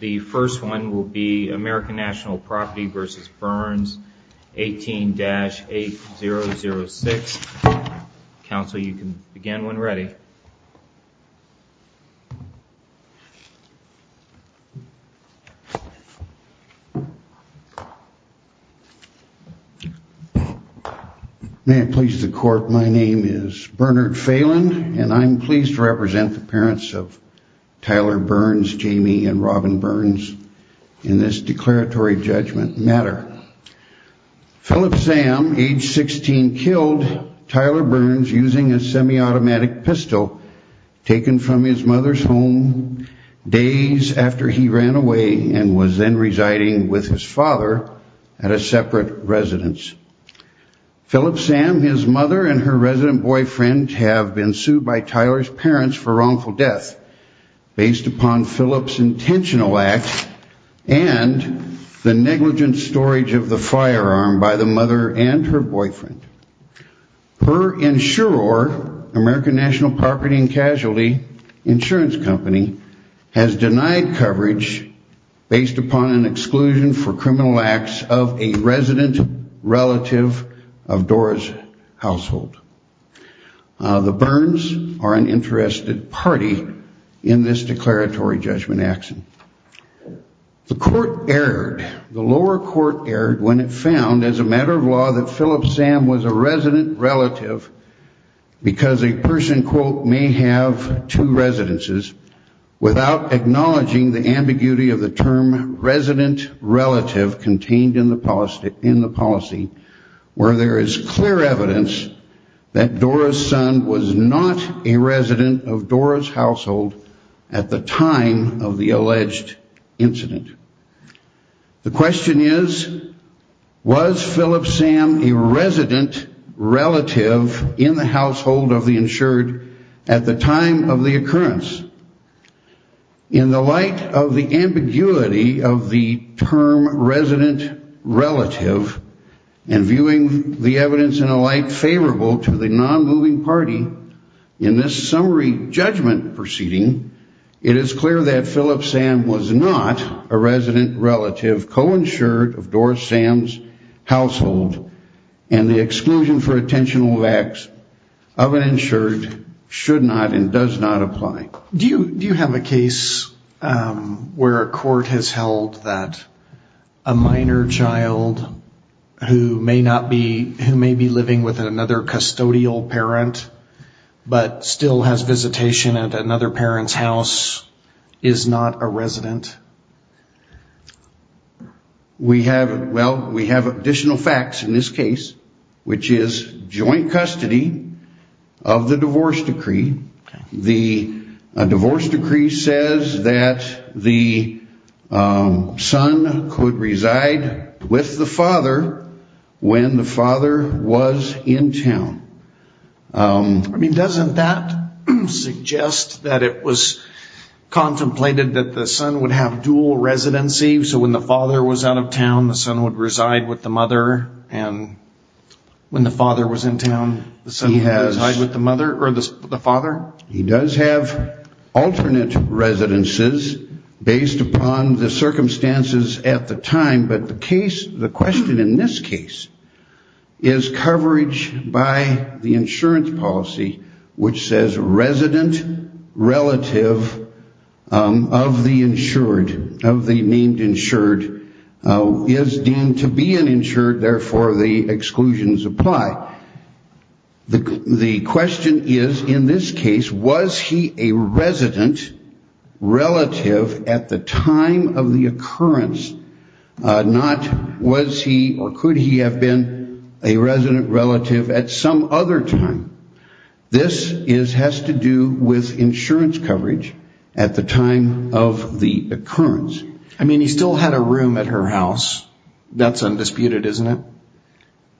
The first one will be American National Property v. Burns, 18-8006. Counsel, you can begin when ready. May it please the Court, my name is Bernard Phelan, and I'm pleased to represent the parents of Tyler Burns, Jamie, and Robin Burns in this declaratory judgment matter. Philip Sam, age 16, killed Tyler Burns using a semi-automatic pistol taken from his mother's home days after he ran away and was then residing with his father at a separate residence. Philip Sam, his mother, and her resident boyfriend have been sued by Tyler's parents for wrongful death based upon Philip's intentional acts and the negligent storage of the firearm by the mother and her boyfriend. Her insurer, American National Property and Casualty Insurance Company, has denied coverage based upon an exclusion for criminal acts of a resident relative of Dora's household. The Burns are an interested party in this declaratory judgment action. The lower court erred when it found, as a matter of law, that Philip Sam was a resident relative because a person, quote, may have two residences without acknowledging the ambiguity of the term resident relative contained in the policy where there is clear evidence that Dora's son was not a resident of Dora's household at the time of the alleged incident. The question is, was Philip Sam a resident relative in the household of the insured at the time of the occurrence? In the light of the ambiguity of the term resident relative and viewing the evidence in a light favorable to the non-moving party in this summary judgment proceeding, it is clear that Philip Sam was not a resident relative co-insured of Dora Sam's household and the exclusion for attentional acts of an insured should not and does not apply. Do you have a case where a court has held that a minor child who may be living with another custodial parent but still has visitation at another parent's house is not a resident? Well, we have additional facts in this case, which is joint custody of the divorce decree. A divorce decree says that the son could reside with the father when the father was in town. I mean, doesn't that suggest that it was contemplated that the son would have dual residency, so when the father was out of town, the son would reside with the mother, and when the father was in town, the son would reside with the mother or the father? He does have alternate residences based upon the circumstances at the time, but the question in this case is coverage by the insurance policy, which says resident relative of the insured, of the named insured, is deemed to be an insured, therefore the exclusions apply. The question is in this case, was he a resident relative at the time of the occurrence, not was he or could he have been a resident relative at some other time. This has to do with insurance coverage at the time of the occurrence. I mean, he still had a room at her house. That's undisputed, isn't it?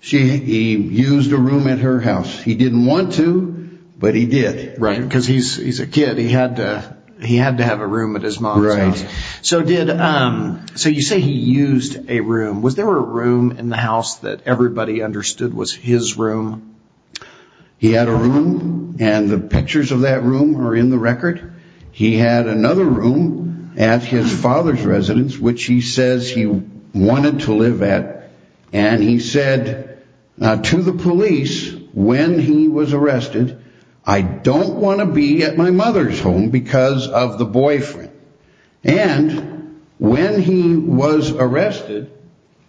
He used a room at her house. He didn't want to, but he did because he's a kid. He had to have a room at his mom's house. So you say he used a room. Was there a room in the house that everybody understood was his room? He had a room, and the pictures of that room are in the record. He had another room at his father's residence, which he says he wanted to live at, and he said to the police when he was arrested, I don't want to be at my mother's home because of the boyfriend. And when he was arrested,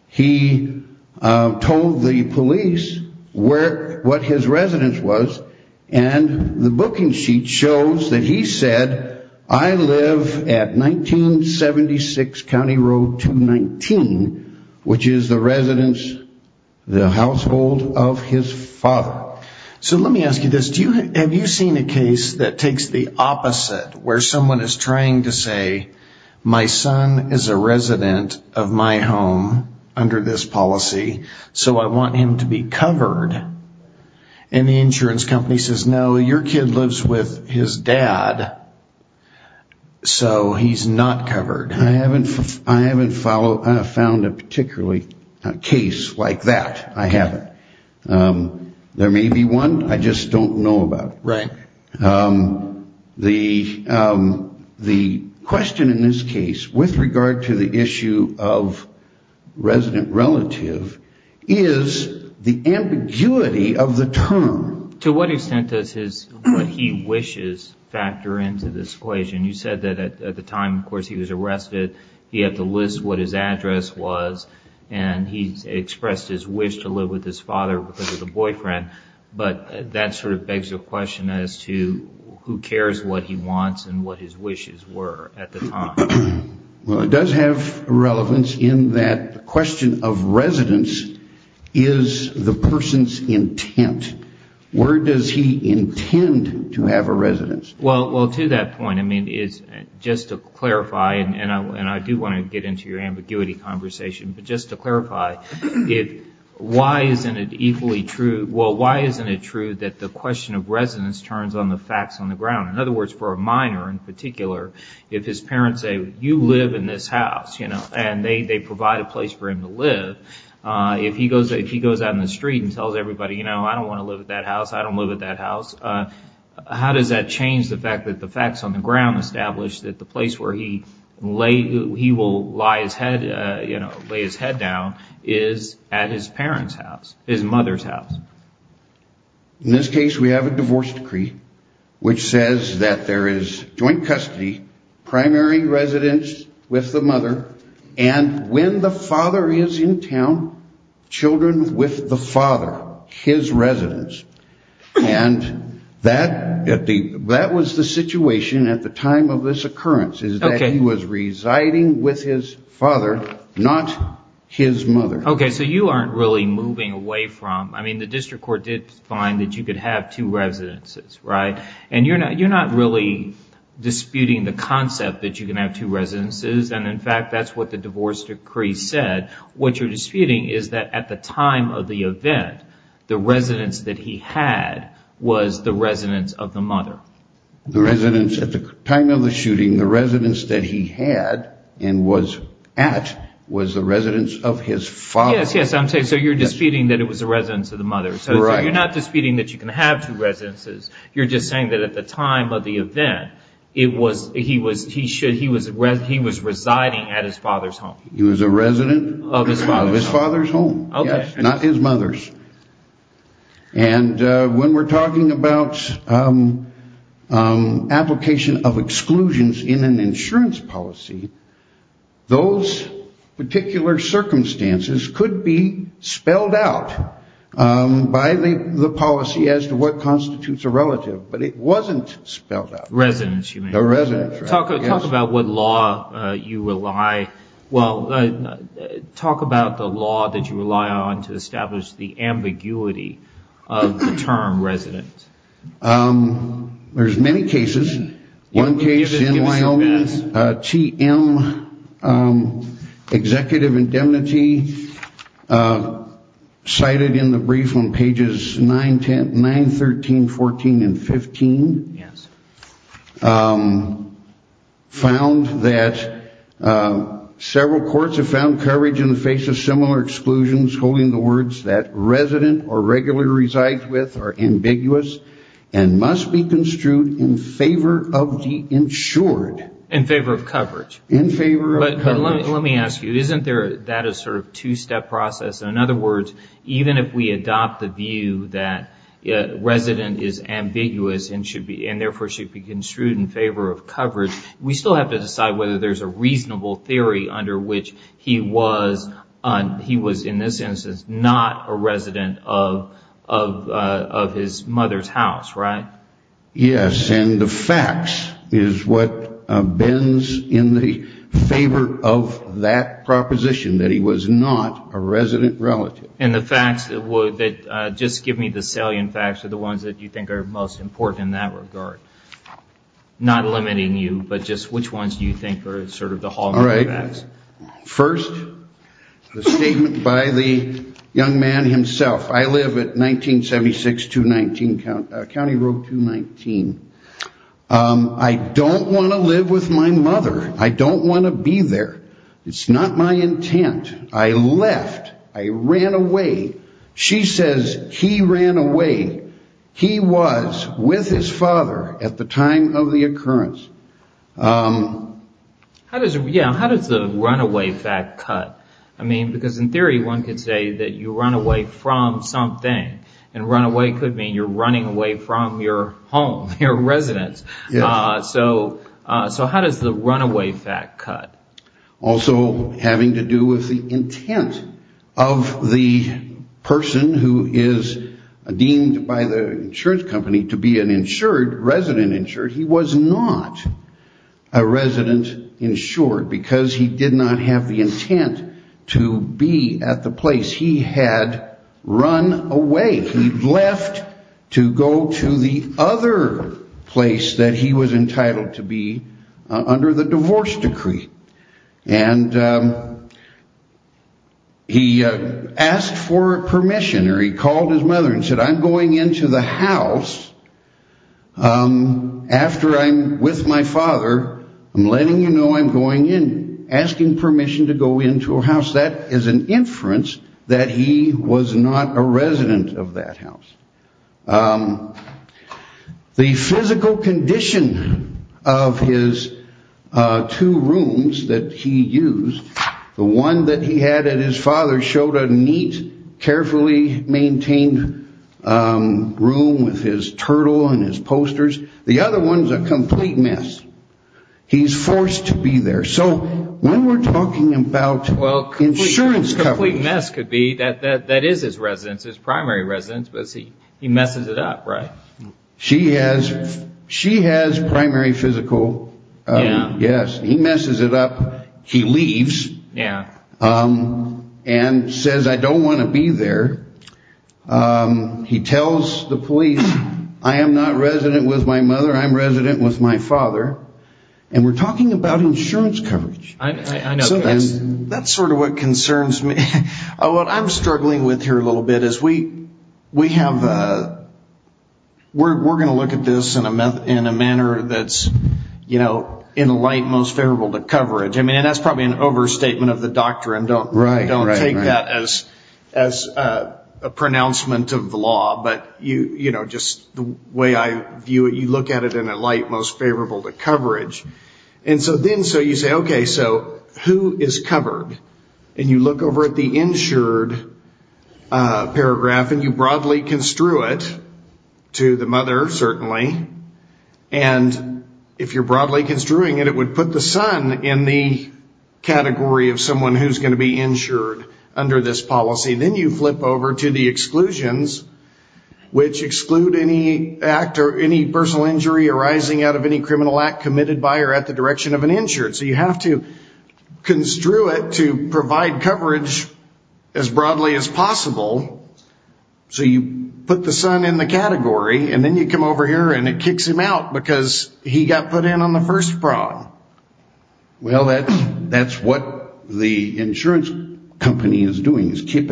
he told the police what his residence was, and the booking sheet shows that he said, I live at 1976 County Road 219, which is the residence, the household of his father. So let me ask you this. Have you seen a case that takes the opposite, where someone is trying to say my son is a resident of my home under this policy, so I want him to be covered, and the insurance company says, no, your kid lives with his dad, so he's not covered? I haven't found a particularly case like that. I haven't. There may be one. I just don't know about it. Right. The question in this case with regard to the issue of resident relative is the ambiguity of the term. To what extent does what he wishes factor into this equation? You said that at the time, of course, he was arrested. He had to list what his address was, and he expressed his wish to live with his father because of the boyfriend, but that sort of begs the question as to who cares what he wants and what his wishes were at the time. Well, it does have relevance in that the question of residence is the person's intent. Where does he intend to have a residence? Well, to that point, I mean, just to clarify, and I do want to get into your ambiguity conversation, but just to clarify, why isn't it equally true? Well, why isn't it true that the question of residence turns on the facts on the ground? In other words, for a minor in particular, if his parents say, you live in this house, and they provide a place for him to live, if he goes out in the street and tells everybody, you know, I don't want to live at that house, I don't live at that house, how does that change the fact that the facts on the ground establish that the place where he will lay his head down is at his parents' house, his mother's house? In this case, we have a divorce decree which says that there is joint custody, primary residence with the mother, and when the father is in town, children with the father, his residence. And that was the situation at the time of this occurrence, is that he was residing with his father, not his mother. Okay, so you aren't really moving away from, I mean, the district court did find that you could have two residences, right? And you're not really disputing the concept that you can have two residences, and in fact, that's what the divorce decree said. What you're disputing is that at the time of the event, the residence that he had was the residence of the mother. The residence at the time of the shooting, the residence that he had and was at was the residence of his father. Yes, yes, so you're disputing that it was the residence of the mother. So you're not disputing that you can have two residences. You're just saying that at the time of the event, he was residing at his father's home. He was a resident of his father's home, yes, not his mother's. And when we're talking about application of exclusions in an insurance policy, those particular circumstances could be spelled out by the policy as to what constitutes a relative, but it wasn't spelled out. Residence, you mean. A residence, yes. Talk about what law you rely, well, talk about the law that you rely on to establish the ambiguity of the term resident. There's many cases. One case in Wyoming, TM, executive indemnity, cited in the brief on pages 9, 10, 9, 13, 14, and 15, found that several courts have found coverage in the face of similar exclusions holding the words that resident or regularly resides with are ambiguous and must be construed in favor of the insured. In favor of coverage. In favor of coverage. But let me ask you, isn't that a sort of two-step process? In other words, even if we adopt the view that resident is ambiguous and therefore should be construed in favor of coverage, we still have to decide whether there's a reasonable theory under which he was, in this instance, not a resident of his mother's house, right? Yes, and the facts is what bends in the favor of that proposition, that he was not a resident relative. And the facts that just give me the salient facts are the ones that you think are most important in that regard. Not limiting you, but just which ones do you think are sort of the hallmarks of that? All right. First, the statement by the young man himself. I live at 1976-219, County Road 219. I don't want to live with my mother. I don't want to be there. It's not my intent. I left. I ran away. She says he ran away. He was with his father at the time of the occurrence. How does the runaway fact cut? I mean, because in theory, one could say that you run away from something, and runaway could mean you're running away from your home, your residence. So how does the runaway fact cut? Also having to do with the intent of the person who is deemed by the insurance company to be an insured, resident insured. He was not a resident insured because he did not have the intent to be at the place. He had run away. He left to go to the other place that he was entitled to be under the divorce decree. And he asked for permission, or he called his mother and said, I'm going into the house after I'm with my father. I'm letting you know I'm going in, asking permission to go into a house. That is an inference that he was not a resident of that house. The physical condition of his two rooms that he used, the one that he had at his father's showed a neat, carefully maintained room with his turtle and his posters. The other one's a complete mess. He's forced to be there. So when we're talking about insurance coverage. A complete mess could be that that is his residence, his primary residence, but he messes it up, right? She has primary physical. Yes. He messes it up. He leaves. Yeah. And says, I don't want to be there. He tells the police, I am not resident with my mother. I'm resident with my father. And we're talking about insurance coverage. I know. That's sort of what concerns me. What I'm struggling with here a little bit is we have a we're going to look at this in a manner that's, you know, in a light most favorable to coverage. I mean, that's probably an overstatement of the doctrine. Don't take that as a pronouncement of the law. But, you know, just the way I view it, you look at it in a light most favorable to coverage. And so then so you say, okay, so who is covered? And you look over at the insured paragraph and you broadly construe it to the mother, certainly. And if you're broadly construing it, it would put the son in the category of someone who's going to be insured under this policy. Then you flip over to the exclusions, which exclude any act or any personal injury arising out of any criminal act committed by or at the direction of an insured. So you have to construe it to provide coverage as broadly as possible. So you put the son in the category, and then you come over here and it kicks him out because he got put in on the first prong. Well, that's what the insurance company is doing, is keep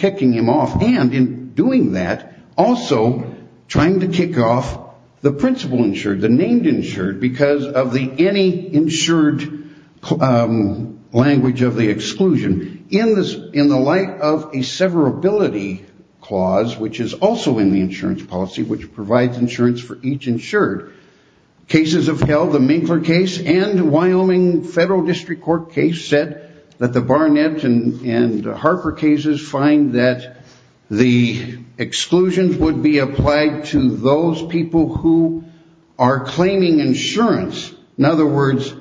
kicking him off. And in doing that, also trying to kick off the principal insured, the named insured, because of the any insured language of the exclusion. In the light of a severability clause, which is also in the insurance policy, which provides insurance for each insured, cases have held, the Minkler case and Wyoming Federal District Court case said that the Barnett and Harper cases find that the exclusions would be applied to those people who are claiming insurance. In other words,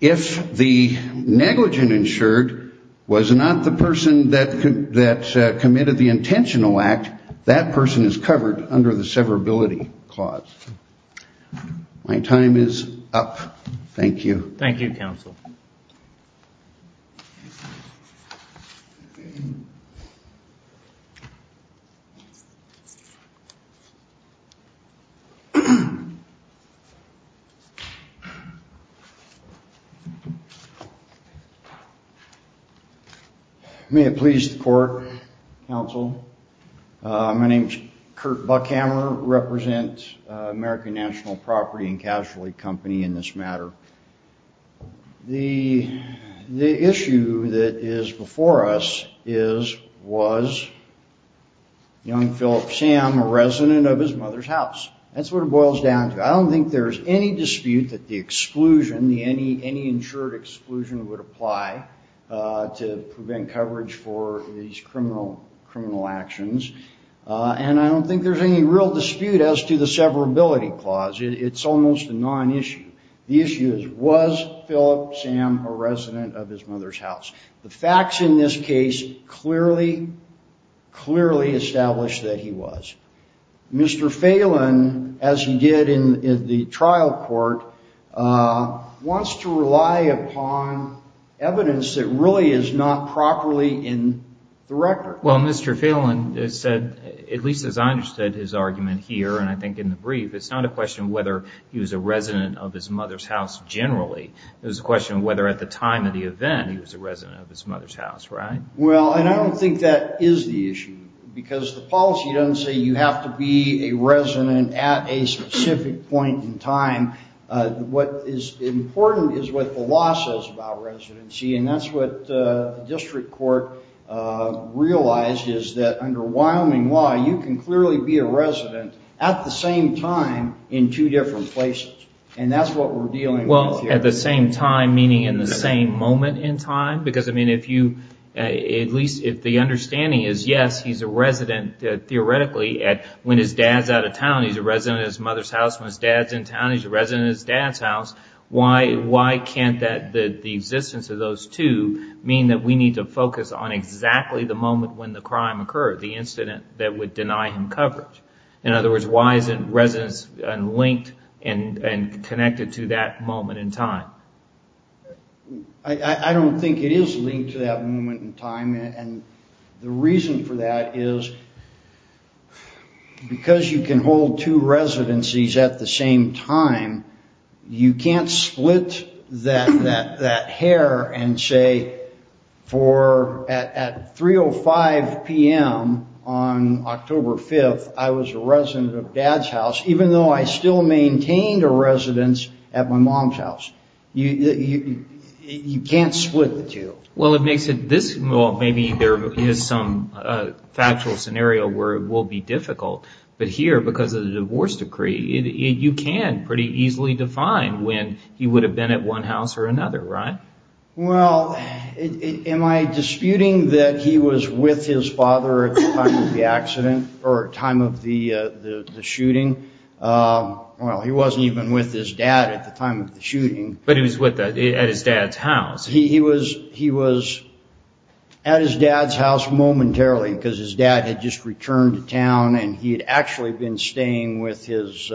if the negligent insured was not the person that committed the intentional act, that person is covered under the severability clause. My time is up. Thank you. Thank you, Counsel. May it please the Court, Counsel, my name is Kurt Buckhammer, represent American National Property and Casualty Company in this matter. The issue that is before us is, was young Phillip Sam a resident of his mother's house? That's what it boils down to. I don't think there's any dispute that the exclusion, the any insured exclusion would apply to prevent coverage for these criminal actions. And I don't think there's any real dispute as to the severability clause. It's almost a non-issue. The issue is, was Phillip Sam a resident of his mother's house? The facts in this case clearly, clearly establish that he was. Mr. Phelan, as he did in the trial court, wants to rely upon evidence that really is not properly in the record. Well, Mr. Phelan said, at least as I understood his argument here, and I think in the brief, it's not a question of whether he was a resident of his mother's house generally. It was a question of whether at the time of the event he was a resident of his mother's house, right? Well, and I don't think that is the issue. Because the policy doesn't say you have to be a resident at a specific point in time. What is important is what the law says about residency. And that's what the district court realized is that under Wyoming law, you can clearly be a resident at the same time in two different places. And that's what we're dealing with here. Well, at the same time, meaning in the same moment in time? Because, I mean, if you, at least if the understanding is, yes, he's a resident, theoretically, when his dad's out of town, he's a resident at his mother's house. When his dad's in town, he's a resident at his dad's house. Why can't the existence of those two mean that we need to focus on exactly the moment when the crime occurred, the incident that would deny him coverage? In other words, why isn't residence linked and connected to that moment in time? I don't think it is linked to that moment in time. The reason for that is because you can hold two residencies at the same time, you can't split that hair and say, at 3.05 p.m. on October 5th, I was a resident of dad's house, even though I still maintained a residence at my mom's house. You can't split the two. Well, maybe there is some factual scenario where it will be difficult. But here, because of the divorce decree, you can pretty easily define when he would have been at one house or another, right? Well, am I disputing that he was with his father at the time of the accident or time of the shooting? Well, he wasn't even with his dad at the time of the shooting. But he was at his dad's house. He was at his dad's house momentarily because his dad had just returned to town and he had actually been staying with his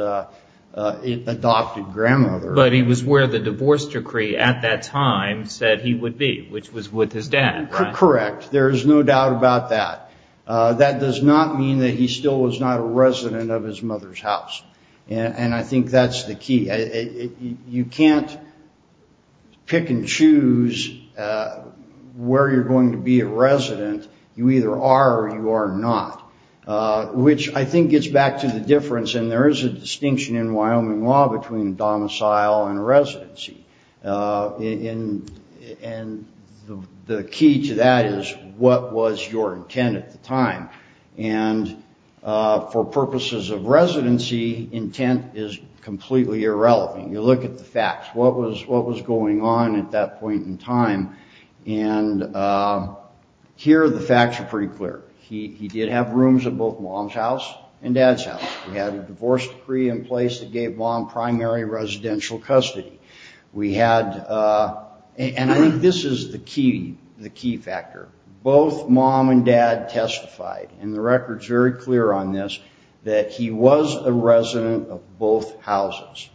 adopted grandmother. But he was where the divorce decree at that time said he would be, which was with his dad, right? Correct. There is no doubt about that. That does not mean that he still was not a resident of his mother's house. And I think that's the key. You can't pick and choose where you're going to be a resident. You either are or you are not, which I think gets back to the difference. And there is a distinction in Wyoming law between domicile and residency. And the key to that is what was your intent at the time? And for purposes of residency, intent is completely irrelevant. You look at the facts. What was going on at that point in time? And here the facts are pretty clear. He did have rooms at both mom's house and dad's house. He had a divorce decree in place that gave mom primary residential custody. And I think this is the key factor. Both mom and dad testified, and the record is very clear on this, that he was a resident of both houses.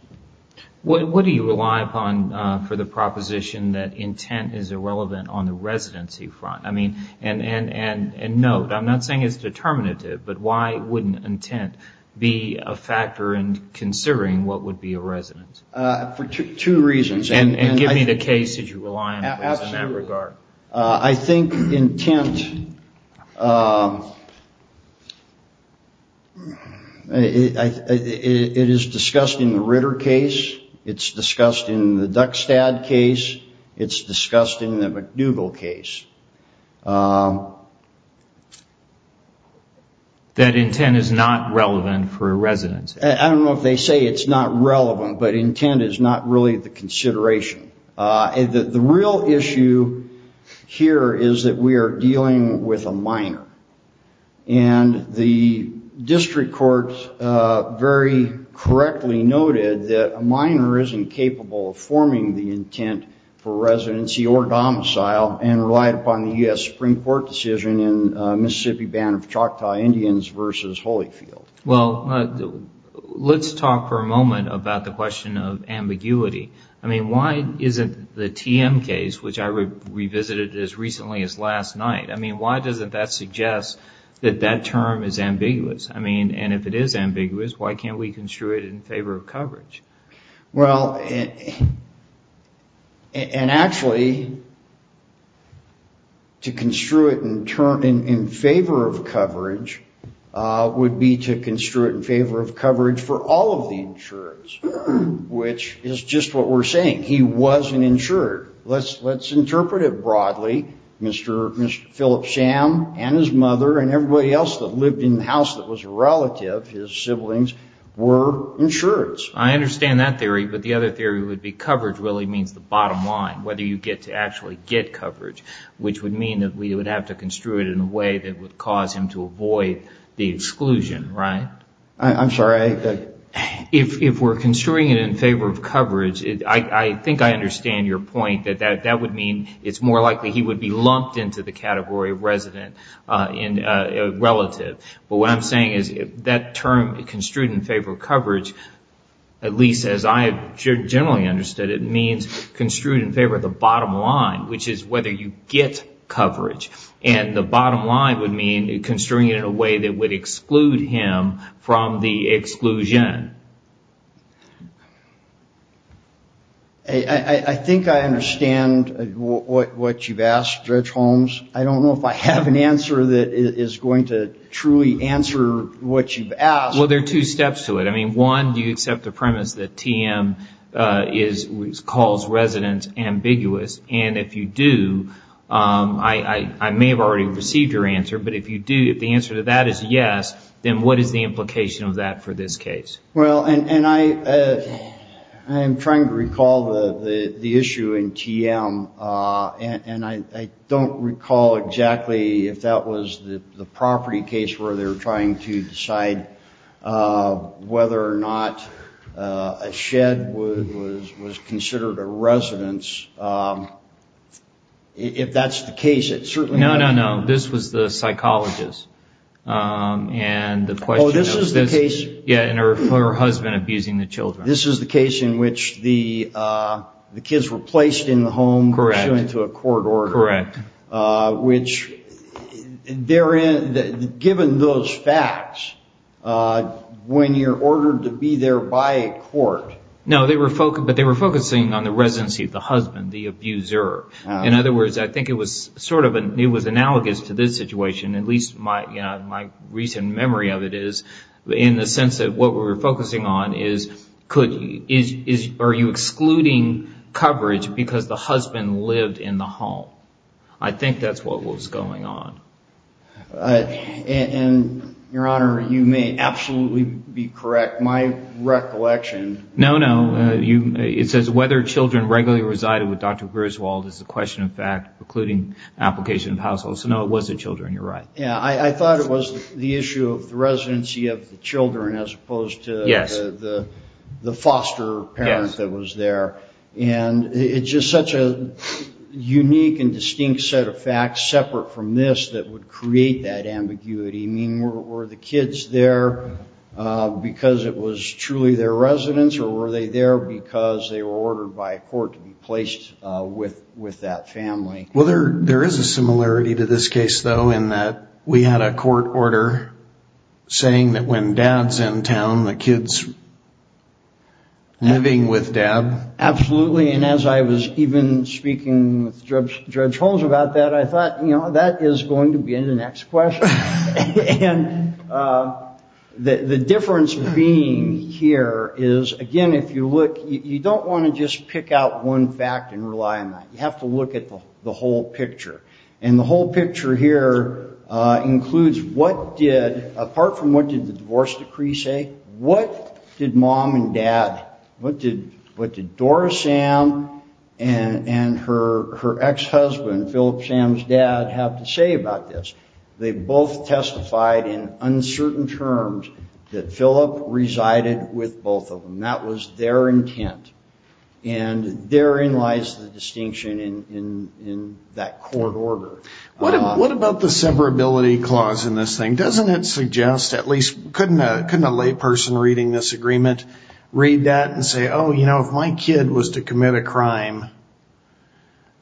What do you rely upon for the proposition that intent is irrelevant on the residency front? And note, I'm not saying it's determinative, but why wouldn't intent be a factor in considering what would be a resident? For two reasons. And give me the case that you rely on in that regard. I think intent... It is discussed in the Ritter case. It's discussed in the Duckstad case. It's discussed in the McDougall case. That intent is not relevant for a residency. I don't know if they say it's not relevant, but intent is not really the consideration. The real issue here is that we are dealing with a minor. And the district court very correctly noted that a minor isn't capable of forming the intent for residency or domicile and relied upon the U.S. Supreme Court decision in Mississippi Band of Choctaw Indians v. Holyfield. Let's talk for a moment about the question of ambiguity. Why isn't the TM case, which I revisited as recently as last night, why doesn't that suggest that that term is ambiguous? And if it is ambiguous, why can't we construe it in favor of coverage? Well, and actually, to construe it in favor of coverage would be to construe it in favor of coverage for all of the insureds, which is just what we're saying. He was an insured. Let's interpret it broadly. Mr. Philip Sham and his mother and everybody else that lived in the house that was a relative, his siblings, were insureds. I understand that theory, but the other theory would be coverage really means the bottom line, whether you get to actually get coverage, which would mean that we would have to construe it in a way that would cause him to avoid the exclusion, right? I'm sorry. If we're construing it in favor of coverage, I think I understand your point that that would mean it's more likely he would be lumped into the category of resident relative. But what I'm saying is that term, construed in favor of coverage, at least as I generally understood it, means construed in favor of the bottom line, which is whether you get coverage. And the bottom line would mean construing it in a way that would exclude him from the exclusion. I think I understand what you've asked, Judge Holmes. I don't know if I have an answer that is going to truly answer what you've asked. Well, there are two steps to it. One, do you accept the premise that TM calls residents ambiguous? And if you do, I may have already received your answer, but if the answer to that is yes, then what is the implication of that for this case? I'm trying to recall the issue in TM, and I don't recall exactly if that was the property case where they were trying to decide whether or not a shed was considered a residence. If that's the case, it certainly... No, no, no. This was the psychologist. Oh, this is the case? Yeah, and her husband abusing the children. This is the case in which the kids were placed in the home pursuant to a court order. Correct. Given those facts, when you're ordered to be there by a court... No, but they were focusing on the residency of the husband, the abuser. In other words, I think it was analogous to this situation, at least my recent memory of it is, in the sense that what we were focusing on is, are you excluding coverage because the husband lived in the home? I think that's what was going on. Your Honor, you may absolutely be correct. My recollection... No, no. It says whether children regularly resided with Dr. Griswold is a question of fact, including application of household. So no, it was the children. You're right. I thought it was the issue of the residency of the children as opposed to the foster parent that was there. It's just such a unique and distinct set of facts, separate from this, that would create that ambiguity. Were the kids there because it was truly their residence, or were they there because they were ordered by court to be placed with that family? Well, there is a similarity to this case, though, in that we had a court order saying that when Dad's in town, the kid's living with Dad. Absolutely. And as I was even speaking with Judge Holmes about that, I thought, you know, that is going to be the next question. And the difference being here is, again, if you look, you don't want to just pick out one fact and rely on that. You have to look at the whole picture. And the whole picture here includes what did, apart from what did the divorce decree say, what did Mom and Dad, Philip Sam's dad, have to say about this? They both testified in uncertain terms that Philip resided with both of them. That was their intent. And therein lies the distinction in that court order. What about the severability clause in this thing? Doesn't it suggest, at least, couldn't a layperson reading this agreement read that and say, oh, you know, if my kid was to commit a crime,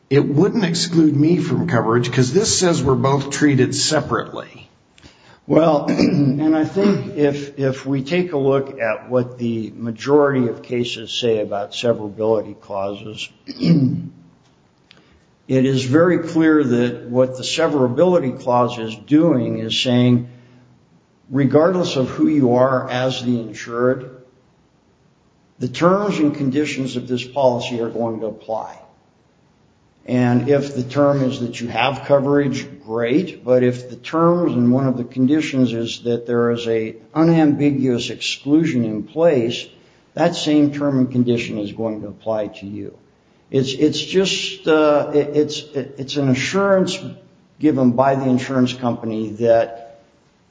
it wouldn't exclude me from coverage, because this says we're both treated separately. Well, and I think if we take a look at what the majority of cases say about severability clauses, it is very clear that what the severability clause is doing is saying, regardless of who you are as the insured, the terms and conditions of this policy are going to apply. And if the term is that you have coverage, great. But if the terms and one of the conditions is that there is an unambiguous exclusion in place, that same term and condition is going to apply to you. It's an assurance given by the insurance company that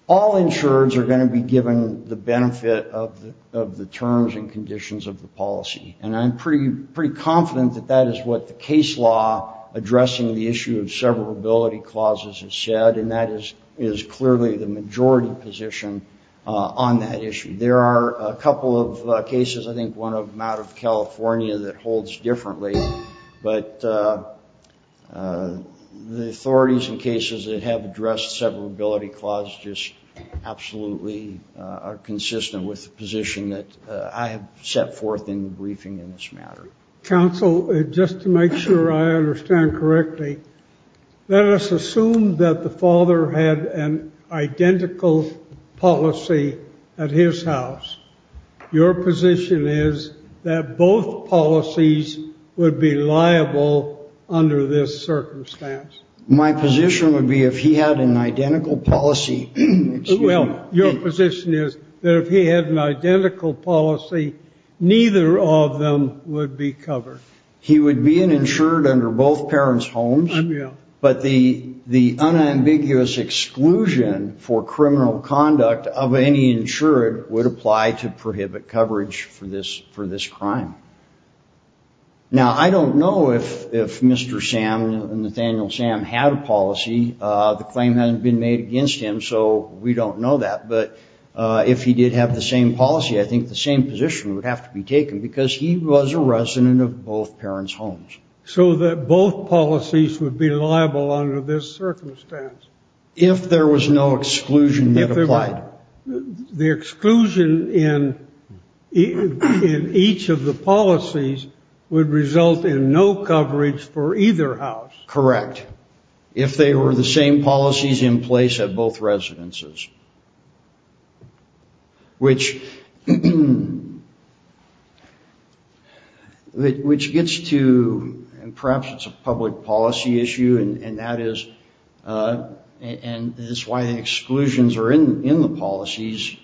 all insureds are going to be given the benefit of the terms and conditions of the policy. And I'm pretty confident that that is what the case law addressing the issue of severability clauses has said, and that is clearly the majority position on that issue. There are a couple of cases, I think one out of California, that holds differently, but the authorities in cases that have addressed severability clauses just absolutely are consistent with the position that I have set forth in the briefing in this matter. Counsel, just to make sure I understand correctly, let us assume that the father had an identical policy at his house. Your position is that both policies would be liable under this circumstance. My position would be if he had an identical policy. Well, your position is that if he had an identical policy, neither of them would be covered. He would be an insured under both parents' homes. But the unambiguous exclusion for criminal conduct of any insured would apply to prohibit coverage for this crime. Now, I don't know if Mr. Sam, Nathaniel Sam, had a policy. The claim hasn't been made against him, so we don't know that. But if he did have the same policy, I think the same position would have to be taken, because he was a resident of both parents' homes. So that both policies would be liable under this circumstance? If there was no exclusion that applied. The exclusion in each of the policies would result in no coverage for either house. Correct. If they were the same policies in place at both residences. Which gets to, and perhaps it's a public policy issue, and that is why the exclusions are in the policies.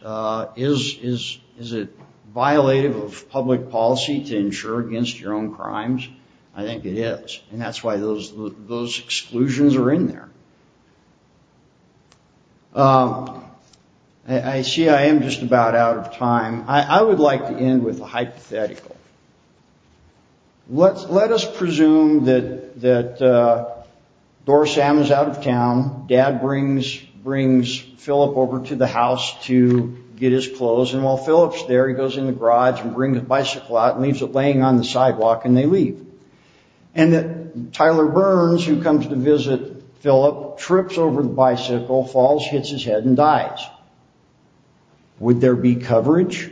Is it violative of public policy to insure against your own crimes? I think it is. And that's why those exclusions are in there. I see I am just about out of time. I would like to end with a hypothetical. Let us presume that Dora Sam is out of town. Dad brings Philip over to the house to get his clothes. And while Philip is there, he goes in the garage and brings a bicycle out and leaves it laying on the sidewalk and they leave. And that Tyler Burns, who comes to visit Philip, trips over the bicycle, falls, hits his head and dies. Would there be coverage?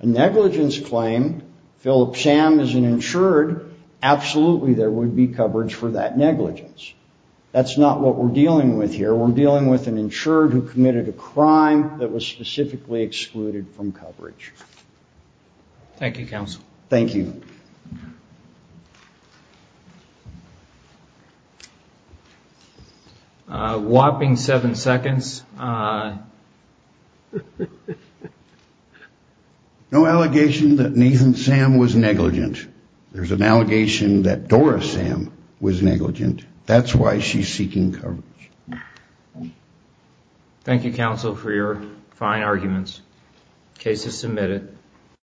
A negligence claim, Philip Sam is an insured, absolutely there would be coverage for that negligence. That's not what we're dealing with here, we're dealing with an insured who committed a crime that was specifically excluded from coverage. Thank you, counsel. A whopping seven seconds. No allegation that Nathan Sam was negligent. That's why she's seeking coverage.